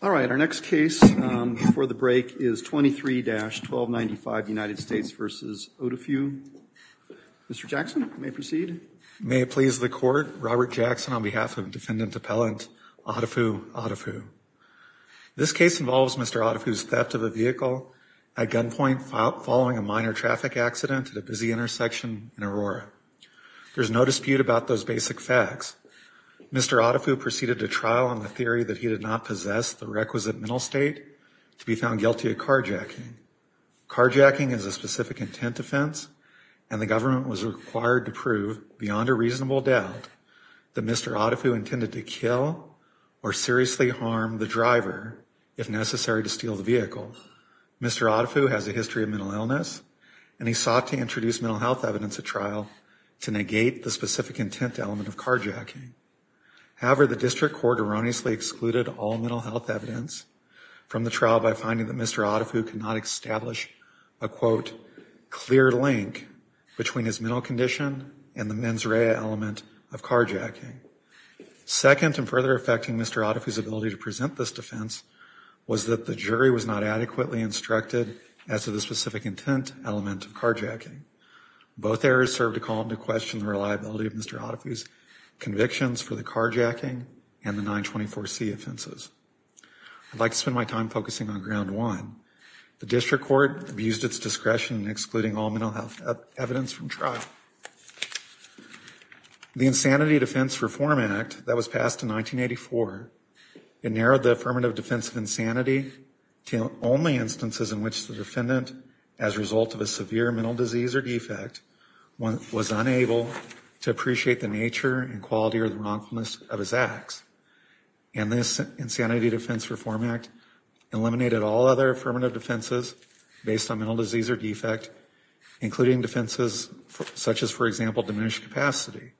All right, our next case before the break is 23-1295, United States v. Odifu. Mr. Jackson, you may proceed. May it please the court, Robert Jackson on behalf of Defendant Appellant Odifu Odifu. This case involves Mr. Odifu's theft of a vehicle at gunpoint following a minor traffic accident at a busy intersection in Aurora. There's no dispute about those basic facts. Mr. Odifu proceeded to trial on the theory that he did not possess the requisite mental state to be found guilty of carjacking. Carjacking is a specific intent offense and the government was required to prove beyond a reasonable doubt that Mr. Odifu intended to kill or seriously harm the driver if necessary to steal the vehicle. Mr. Odifu has a history of mental illness and he sought to introduce mental health evidence at trial to negate the specific intent element of carjacking. However, the district court erroneously excluded all mental health evidence from the trial by finding that Mr. Odifu could not establish a, quote, clear link between his mental condition and the mens rea element of carjacking. Second and further affecting Mr. Odifu's ability to present this defense was that the jury was not adequately instructed as to the specific intent element of carjacking. Both errors served to call into question the reliability of Mr. Odifu's convictions for the carjacking and the 924C offenses. I'd like to spend my time focusing on ground one. The district court abused its discretion in excluding all mental health evidence from trial. The Insanity Defense Reform Act that was passed in 1984, it narrowed the affirmative defense of insanity to only instances in which the defendant, as a result of a severe mental disease or defect, was unable to appreciate the nature and quality or the wrongfulness of his acts. And this Insanity Defense Reform Act eliminated all other affirmative defenses based on mental disease or defect, including defenses such as, for example, diminished capacity.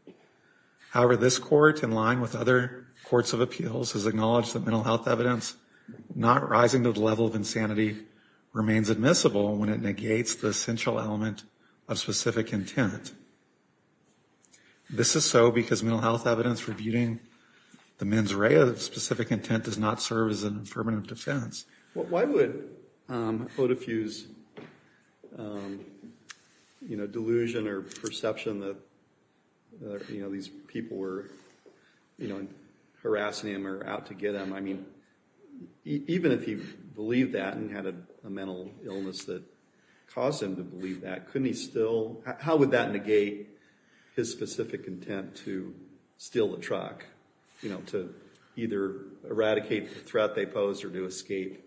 However, this court, in line with other courts of appeals, has acknowledged that mental health evidence not rising to the level of insanity remains admissible when it negates the essential element of specific intent. This is so because mental health evidence rebutting the mens rea of specific intent does not serve as an affirmative defense. Why would Odifu's, you know, delusion or perception that, you know, these people were, you know, harassing him or out to get him, I mean, even if he believed that and had a mental illness that caused him to believe that, couldn't he still, how would that negate his specific intent to steal the truck, you know, to either eradicate the threat they posed or to escape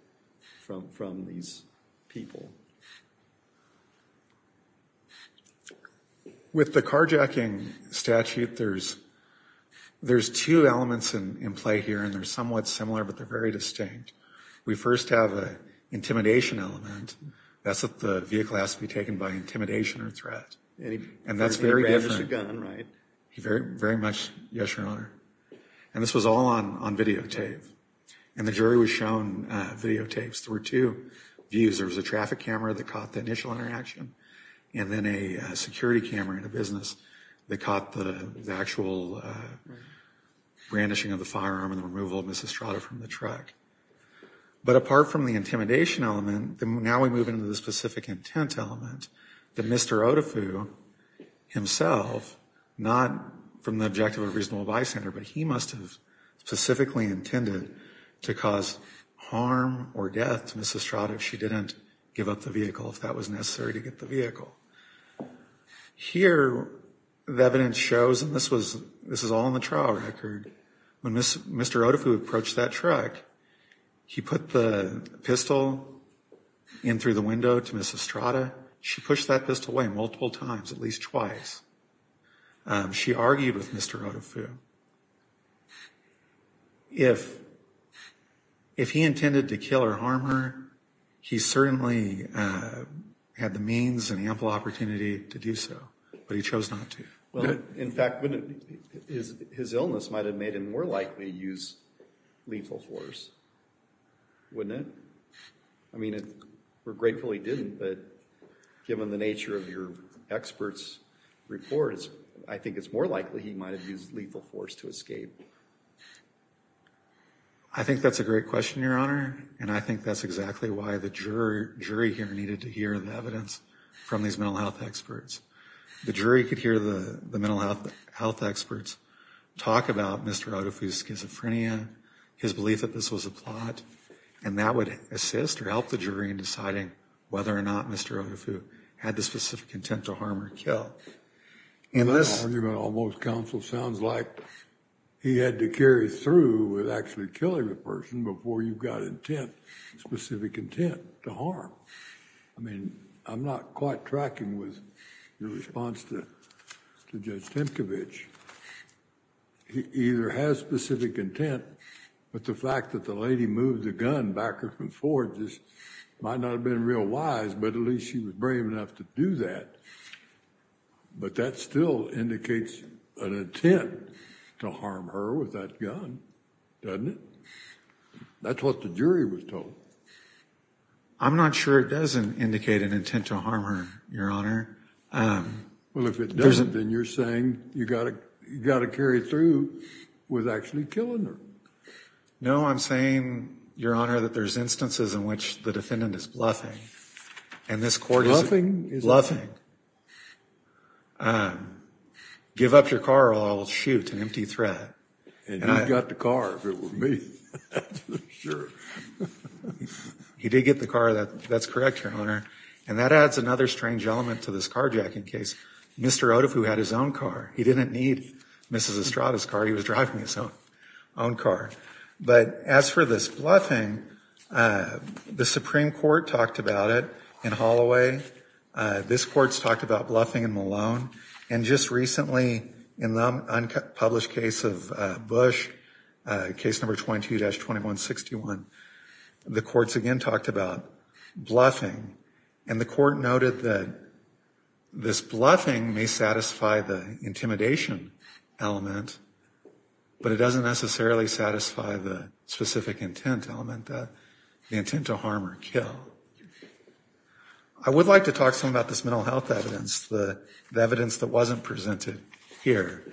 from these people? With the carjacking statute, there's two elements in play here, and they're somewhat similar but they're very distinct. We first have an intimidation element. That's if the vehicle has to be taken by intimidation or threat. And that's very different. And he grabbed the gun, right? Very much, yes, your honor. And this was all on videotape. And the jury was shown videotapes. There were two views. There was a traffic camera that caught the initial interaction and then a security camera in a business that caught the actual brandishing of the firearm and the removal of Mrs. Strada from the truck. But apart from the intimidation element, now we move into the specific intent element that Mr. Odafu himself, not from the objective of reasonable bystander, but he must have specifically intended to cause harm or death to Mrs. Strada if she didn't give up the vehicle, if that was necessary to get the vehicle. Here, the evidence shows, and this was all in the trial record, when Mr. Odafu approached that truck, he put the pistol in through the window to Mrs. Strada. She pushed that pistol away multiple times, at least twice. She argued with Mr. Odafu. If he intended to kill or kill Mrs. Strada, he would have had a reasonable opportunity to do so, but he chose not to. In fact, his illness might have made him more likely use lethal force, wouldn't it? I mean, we're grateful he didn't, but given the nature of your experts' reports, I think it's more likely he might have used lethal force to escape. I think that's a great question, your honor. And I think that's exactly why the jury here needed to hear the evidence from these mental health experts. The jury could hear the mental health experts talk about Mr. Odafu's schizophrenia, his belief that this was a plot, and that would assist or help the jury in deciding whether or not Mr. Odafu had the specific intent to harm or kill. In this argument, almost counsel sounds like he had to carry through with actually killing a person before you've got intent, specific intent, to harm. I mean, I'm not quite tracking with your response to Judge Temkovich. He either has specific intent, but the fact that the lady moved the gun back or forward just might not have been real wise, but at least she was brave enough to do that. But that still indicates an intent to harm her with that gun, doesn't it? That's what the jury was told. I'm not sure it does indicate an intent to harm her, your honor. Well, if it doesn't, then you're saying you've got to carry through with actually killing her. No, I'm saying, your honor, that there's instances in which the defendant is bluffing, and this court is bluffing. Give up your car or I will shoot, an empty threat. And you'd got the car if it were me. He did get the car, that's correct, your honor. And that adds another strange element to this carjacking case. Mr. Odafu had his own car. He didn't need Mrs. Estrada's car. He was driving his own car. But as for this bluffing, the Supreme Court talked about it in Holloway. This court's talked about bluffing in Malone. And just recently in the unpublished case of Bush, case number 22-2161, the courts again talked about bluffing. And the court noted that this bluffing may satisfy the intimidation element, but it doesn't necessarily satisfy the specific intent element, the intent to harm or kill. I would like to talk some about this mental health evidence, the evidence that wasn't presented here.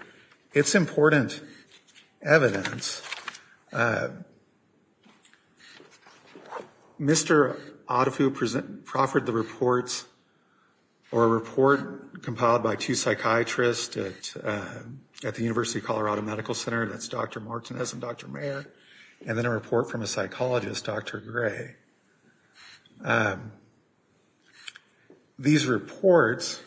It's important evidence. Mr. Odafu proffered the reports or a report compiled by two psychiatrists at the University of Colorado Medical Center, that's Dr. Martinez and Dr. Mayer, and then a report from a psychologist, Dr. Gray. These reports,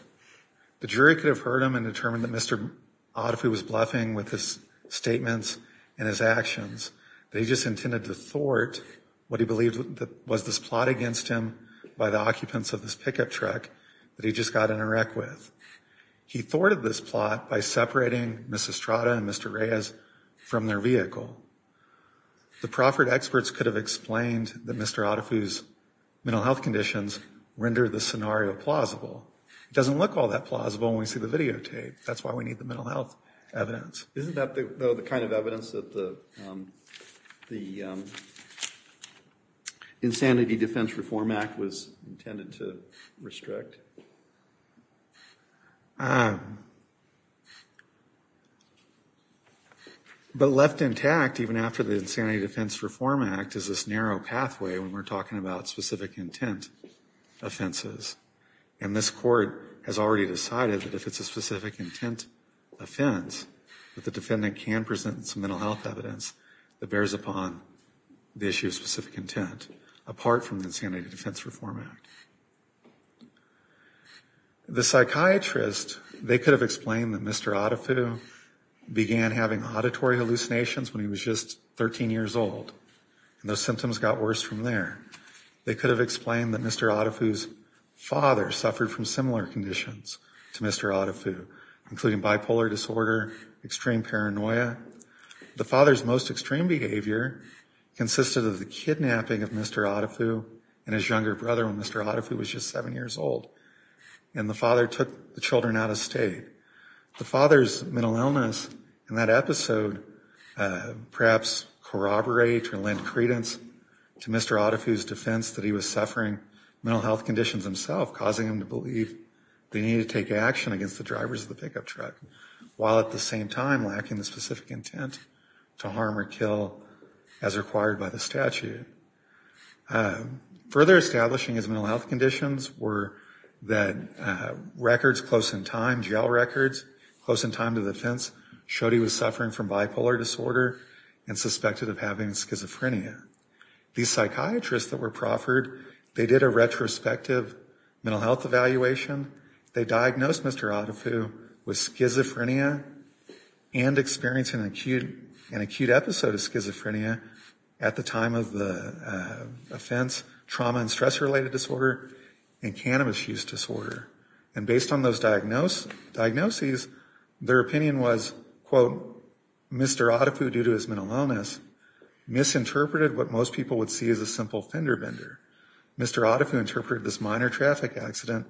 the jury could have heard them and determined that Mr. Odafu was bluffing with his statements and his actions. They just intended to thwart what he believed was this plot against him by the occupants of this pickup truck that he just got in a wreck with. He thwarted this plot by separating Mrs. Estrada and Mr. Reyes from their vehicle. The proffered experts could have explained that Mr. Odafu's mental health conditions rendered the scenario plausible. It doesn't look all that plausible when we see the videotape. That's why we need the mental health evidence. Isn't that the kind of evidence that the Insanity Defense Reform Act was intended to restrict? But left intact, even after the Insanity Defense Reform Act, is this narrow pathway when we're talking about specific intent offenses. And this court has already decided that if it's a specific intent offense, that the defendant can present some mental health evidence that bears upon the issue of specific intent, apart from the Insanity Defense Reform Act. The psychiatrist, they could have explained that Mr. Odafu began having auditory hallucinations when he was just 13 years old. And those symptoms got worse from there. They could have explained that Mr. Odafu's father suffered from similar conditions to Mr. Odafu, including bipolar disorder, extreme paranoia. The father's most extreme behavior consisted of the kidnapping of Mr. Odafu and his younger brother when Mr. Odafu was just seven years old. And the father took the children out of state. The father's mental illness in that episode perhaps corroborate or lend credence to Mr. Odafu's defense that he was suffering mental health conditions himself, causing him to believe they needed to take action against the drivers of the pickup truck, while at the same time lacking the specific intent to harm or kill as required by the statute. Further establishing his mental health conditions were that records close in time, jail records close in time to the offense showed he was suffering from bipolar disorder and suspected of having schizophrenia. These psychiatrists that were proffered, they did a retrospective mental health evaluation. They diagnosed Mr. Odafu with schizophrenia and experienced an acute episode of schizophrenia at the time of the offense, trauma and stress related disorder, and cannabis use disorder. And based on those diagnoses, their opinion was, quote, Mr. Odafu due to his mental illness misinterpreted what most people would see as a simple fender bender. Mr. Odafu interpreted this minor traffic accident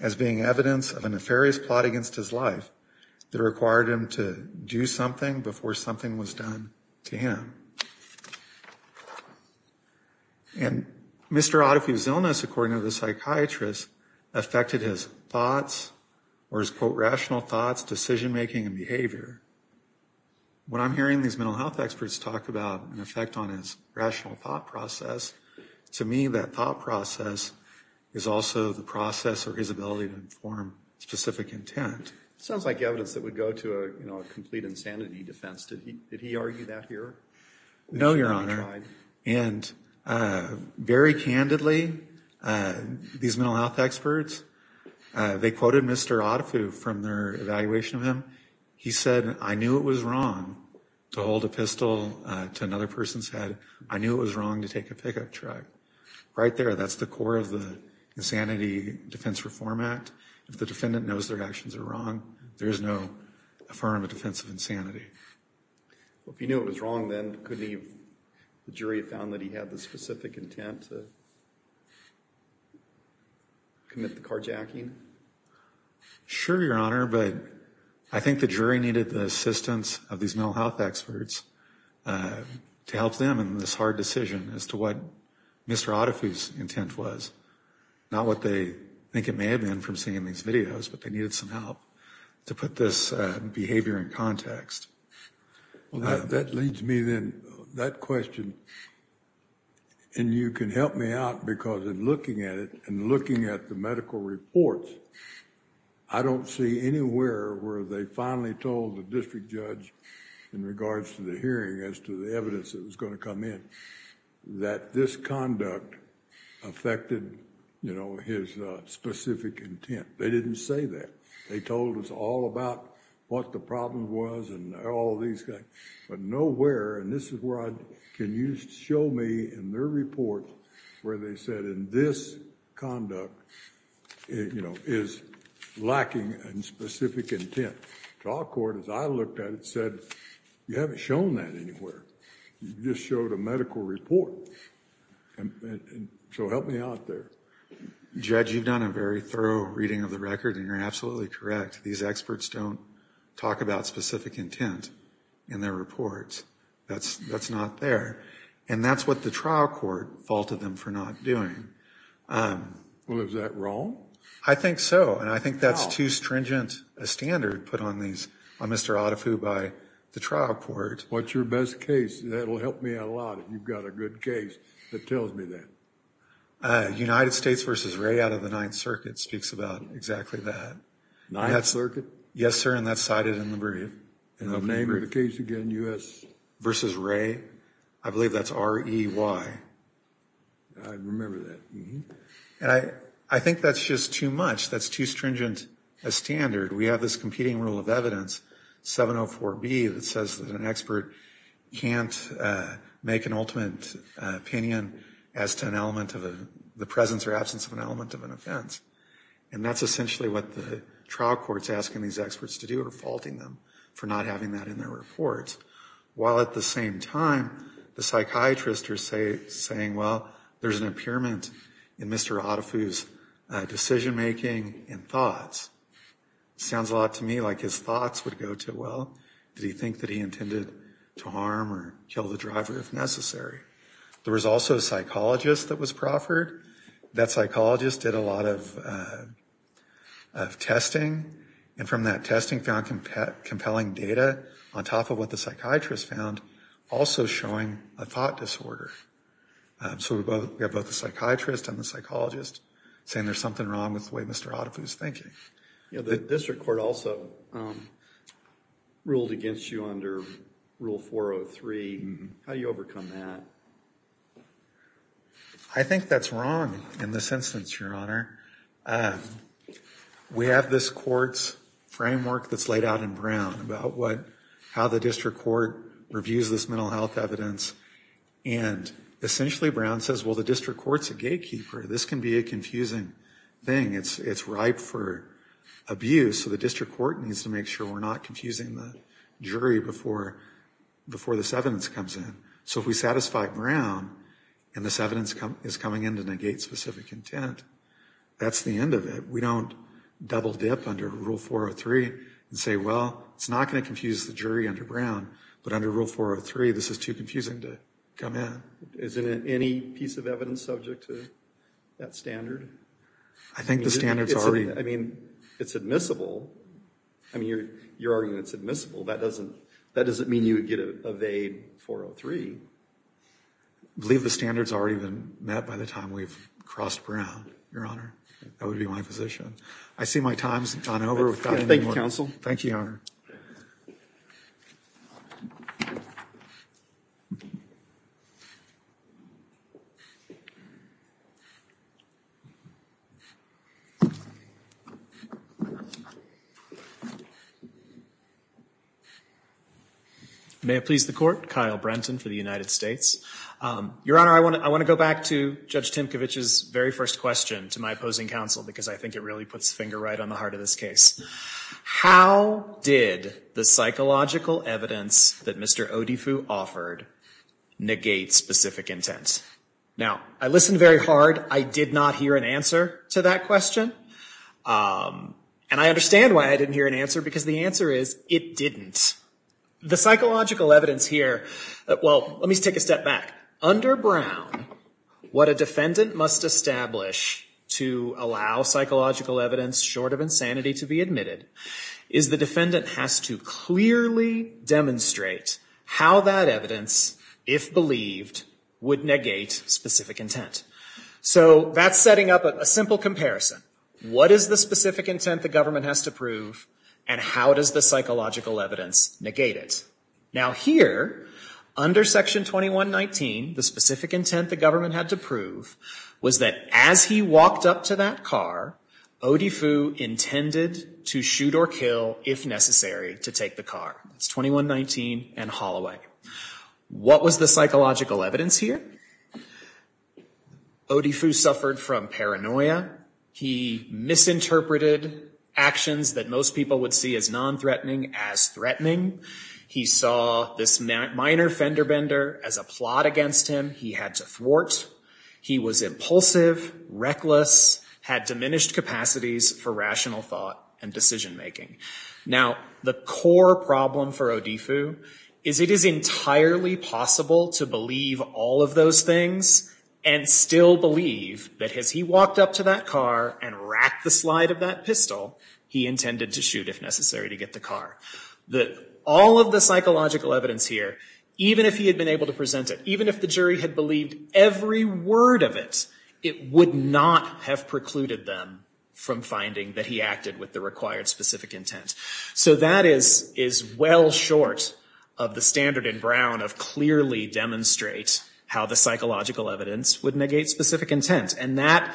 as being evidence of a nefarious plot against his life that required him to do something before something was done to him. And Mr. Odafu's illness, according to the psychiatrists, affected his thoughts or his, quote, rational thoughts, decision making and behavior. When I'm hearing these mental health experts talk about an effect on his rational thought process, to me that thought process is also the process or his ability to inform specific intent. Sounds like evidence that would go to a, you know, a complete insanity defense. Did he argue that here? No, Your Honor. And very candidly, these mental health experts, they quoted Mr. Odafu from their evaluation of him. He said, I knew it was wrong to hold a pistol to another person's head. I knew it was wrong to take a pickup truck. Right there, that's the core of the Insanity Defense Reform Act. If the defendant knows their actions are wrong, there is no affirmative defense of insanity. Well, if he knew it was wrong, then could he, the jury found that he had the specific intent to commit the car jacking? Sure, Your Honor, but I think the jury needed the assistance of these mental health experts to help them in this hard decision as to what Mr. Odafu's intent was. Not what they think it may have been from seeing these videos, but they needed some help to put this behavior in context. That leads me then, that question, and you can help me out because in looking at it and looking at the medical reports, I don't see anywhere where they finally told the district judge in regards to the hearing as to the evidence that was going to come in that this conduct affected his specific intent. They didn't say that. They told us all about what the problem was and all these things, but nowhere, and this is where I... can you show me in their report where they said in this conduct is lacking in specific intent. The trial court, as I looked at it, said you haven't shown that anywhere. You just showed a medical report, so help me out there. Judge, you've done a very thorough reading of the record and you're absolutely correct. These experts don't talk about specific intent in their reports. That's not there, and that's what the trial court faulted them for not doing. Well, is that wrong? I think so, and I think that's too stringent a standard put on Mr. Odafu by the trial court. What's your best case? That'll help me out a lot if you've got a good case that tells me that. United States v. Ray out of the Ninth Circuit speaks about exactly that. Ninth Circuit? Yes, sir, and that's cited in the brief. And the name of the case again, U.S....... v. Ray. I believe that's R-E-Y. I remember that. And I think that's just too much. That's too stringent a standard. We have this competing rule of evidence, 704B, that says that an expert can't make an ultimate opinion as to an element of the presence or absence of an element of an offense, and that's essentially what the experts are faulting them for not having that in their reports, while at the same time, the psychiatrists are saying, well, there's an impairment in Mr. Odafu's decision-making and thoughts. It sounds a lot to me like his thoughts would go to, well, did he think that he intended to harm or kill the driver if necessary? There was also a psychologist that was proffered. That psychologist did a lot of testing, and from that point of view, the testing found compelling data, on top of what the psychiatrist found, also showing a thought disorder. So we have both the psychiatrist and the psychologist saying there's something wrong with the way Mr. Odafu's thinking. You know, the district court also ruled against you under Rule 403. How do you overcome that? I think that's wrong in this instance, Your Honor. We have this court's opinion, and I think that's wrong in this instance. There's a framework that's laid out in Brown about how the district court reviews this mental health evidence, and essentially, Brown says, well, the district court's a gatekeeper. This can be a confusing thing. It's ripe for abuse, so the district court needs to make sure we're not confusing the jury before this evidence comes in. So if we satisfy Brown and this evidence is coming in to negate specific intent, that's the end of it. We don't double dip under Rule 403 and say, well, it's not going to confuse the jury under Brown, but under Rule 403, this is too confusing to come in. Isn't any piece of evidence subject to that standard? I think the standard's already... I mean, it's admissible. I mean, you're arguing it's admissible. That doesn't mean you would get evade 403. I believe the standard's already been met by the time we've crossed Brown, Your Honor. That would be my position. I see my time's gone over. Thank you, Counsel. Thank you, Your Honor. May it please the Court. Kyle Brenton for the United States. Your Honor, I want to go back to Judge Tymkiewicz's very first question to my opposing counsel, because I think it really puts the finger right on the heart of this case. How did the cycle of the trial go? How did the psychological evidence that Mr. Odifu offered negate specific intent? Now, I listened very hard. I did not hear an answer to that question. And I understand why I didn't hear an answer, because the answer is, it didn't. The psychological evidence here... Well, let me take a step back. Under Brown, what a defendant must establish to allow psychological evidence short of insanity to be admitted is the defendant has to clearly demonstrate how that evidence, if believed, would negate specific intent. So that's setting up a simple comparison. What is the specific intent the government has to prove, and how does the psychological evidence negate it? Now here, under Section 2119, the specific intent the government had to prove was that as he walked up to that car, Odifu intended to shoot or kill, if necessary, to take the car. That's 2119 and Holloway. What was the psychological evidence here? Odifu suffered from paranoia. He misinterpreted actions that most people would see as non-threatening as threatening. He saw this minor fender-bender as a plot against him. He had to thwart. He was impulsive, reckless, had diminished capacities for rational thought and decision-making. Now, the core problem for Odifu is it is entirely possible to believe all of those things and still believe that as he walked up to that car and racked the slide of that pistol, he intended to shoot, if necessary, to get the car. All of the psychological evidence here, even if he had been able to present it, even if the jury had believed every word of it, it would not have precluded them from finding that he acted with the required specific intent. So that is well short of the standard in Brown of clearly demonstrate how the psychological evidence would negate specific intent. And that,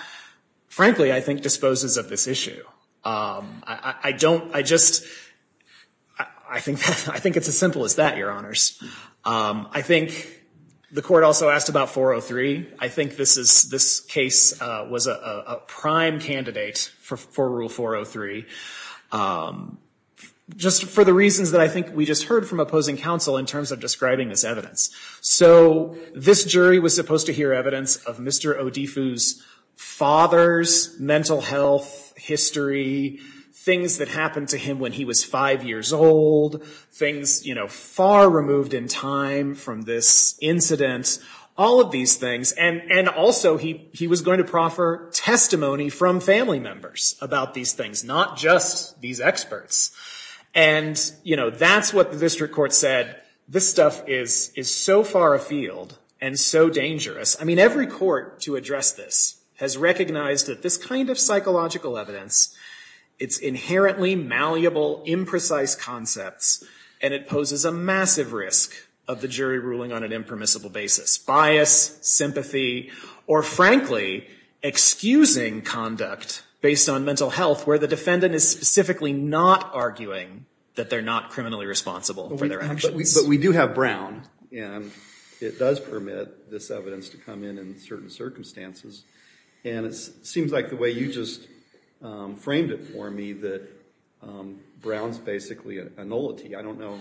frankly, I think disposes of this issue. I don't, I just, I think it's as simple as that, Your Honors. I think the court also asked about 403. I think this case was a prime candidate for Rule 403, just for the reasons that I think we just heard from opposing counsel in terms of describing this evidence. So this jury was supposed to hear evidence of Mr. Odifu's father's mental health, history, things that happened to him when he was five years old, things, you know, far removed in time from this incident, all of these things. And also he was going to proffer testimony from family members about these things, not just these experts. And, you know, that's what the district court said. This stuff is so far afield and so dangerous. I mean, every court to address this has recognized that this kind of psychological evidence, it's inherently malleable, imprecise concepts, and it poses a massive risk of the jury ruling on an impermissible basis. Bias, sympathy, or frankly, excusing conduct based on mental health where the defendant is specifically not arguing that they're not criminally responsible for their actions. But we do have Brown, and it does permit this evidence to come in in certain circumstances. And it seems like the way you just framed it for me that Brown's basically a nullity. I don't know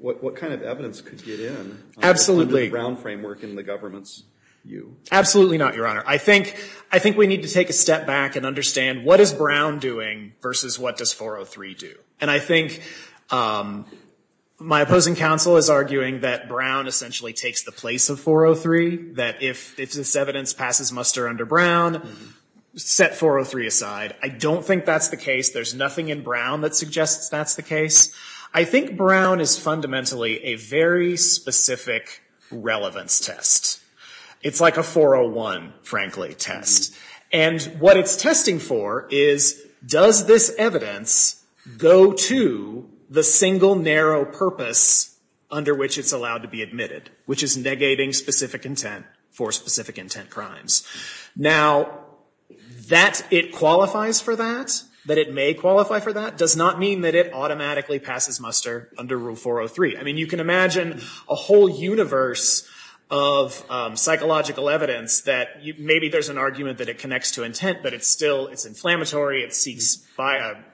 what kind of evidence could get in under the Brown framework in the government's view. Absolutely not, Your Honor. I think we need to take a step back and understand what is Brown doing versus what does 403 do. And I think my opposing counsel is arguing that Brown essentially takes the place of 403, that if this evidence passes muster under Brown, set 403 aside. I don't think that's the case. There's nothing in Brown that suggests that's the case. I think Brown is fundamentally a very specific relevance test. It's like a 401, frankly, test. And what it's testing for is does this evidence go to the single narrow purpose under which it's allowed to be admitted, which is negating specific intent for specific intent crimes. Now, that it qualifies for that, that it may qualify for that, does not mean that it automatically passes muster under Rule 403. I mean, you can imagine a whole universe of psychological evidence that maybe there's an argument that it connects to intent, but it's still, it's inflammatory, it seeks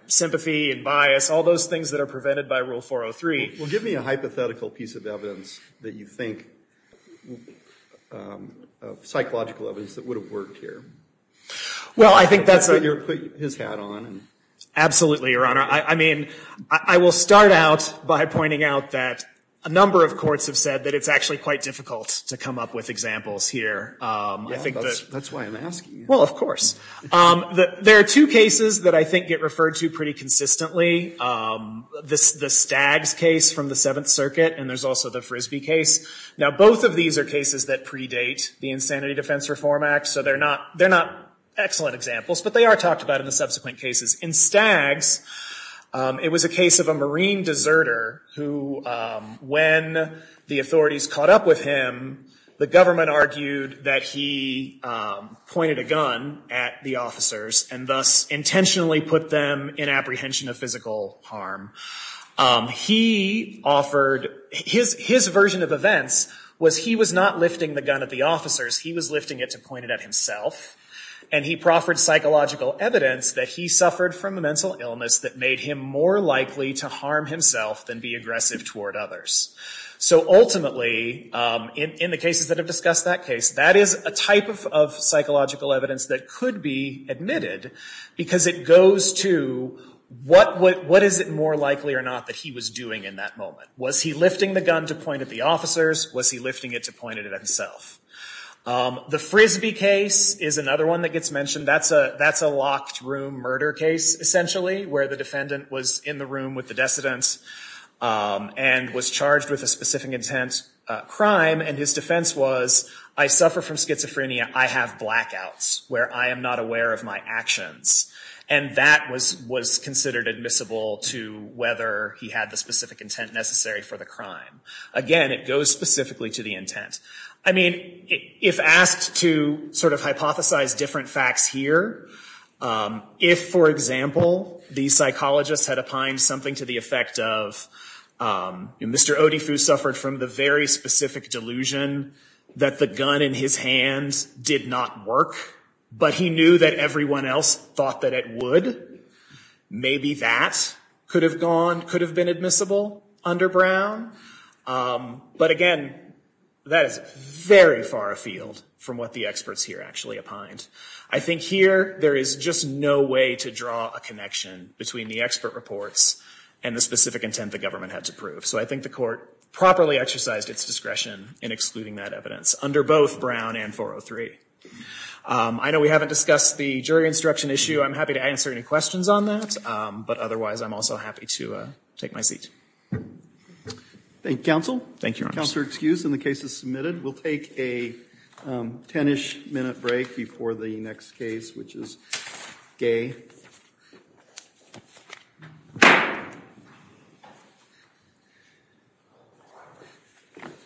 sympathy and bias, all those things that are prevented by Rule 403. Well, give me a hypothetical piece of evidence that you think of psychological evidence that would have worked here. Well, I think that's a… Put his hat on. Absolutely, Your Honor. I mean, I will start out by pointing out that a number of courts have said that it's actually quite difficult to come up with examples here. Yeah, that's why I'm asking you. Well, of course. There are two cases that I think get referred to pretty consistently. The Staggs case from the Seventh Circuit, and there's also the Frisbee case. Now, both of these are cases that predate the Insanity Defense Reform Act, so they're not excellent examples, but they are talked about in the subsequent cases. In Staggs, it was a case of a Marine deserter who, when the authorities caught up with him, the government argued that he pointed a gun at the officers and thus intentionally put them in apprehension of physical harm. He offered… His version of events was he was not lifting the gun at the officers, he was lifting it to point it at himself, and he proffered psychological evidence that he suffered from a mental illness that made him more likely to harm himself than be aggressive toward others. So ultimately, in the cases that have discussed that case, that is a type of psychological evidence that could be admitted because it goes to what is it more likely or not that he was doing in that moment. Was he lifting the gun to point at the officers? Was he lifting it to point it at himself? The Frisbee case is another one that gets mentioned. That's a locked room murder case, essentially, where the defendant was in the room with the decedent and was charged with a specific intent crime, and his defense was, I suffer from schizophrenia, I have blackouts where I am not aware of my actions. And that was considered admissible to whether he had the specific intent necessary for the crime. Again, it goes specifically to the intent. I mean, if asked to sort of hypothesize different facts here, if, for example, the psychologist had opined something to the effect of Mr. Odifu suffered from the very specific delusion that the gun in his hand did not work, but he knew that everyone else thought that it would, maybe that could have gone, could have been admissible under Brown. But again, that is very far afield from what the experts here actually opined. I think here there is just no way to draw a connection between the expert reports and the specific intent the government had to prove. So I think the court properly exercised its discretion in excluding that evidence under both Brown and 403. I know we haven't discussed the jury instruction issue. I'm happy to answer any questions on that, but otherwise I'm also happy to take my seat. Thank you, Counsel. Thank you, Your Honor. Counsel is excused and the case is submitted. We'll take a ten-ish minute break before the next case, which is Gay.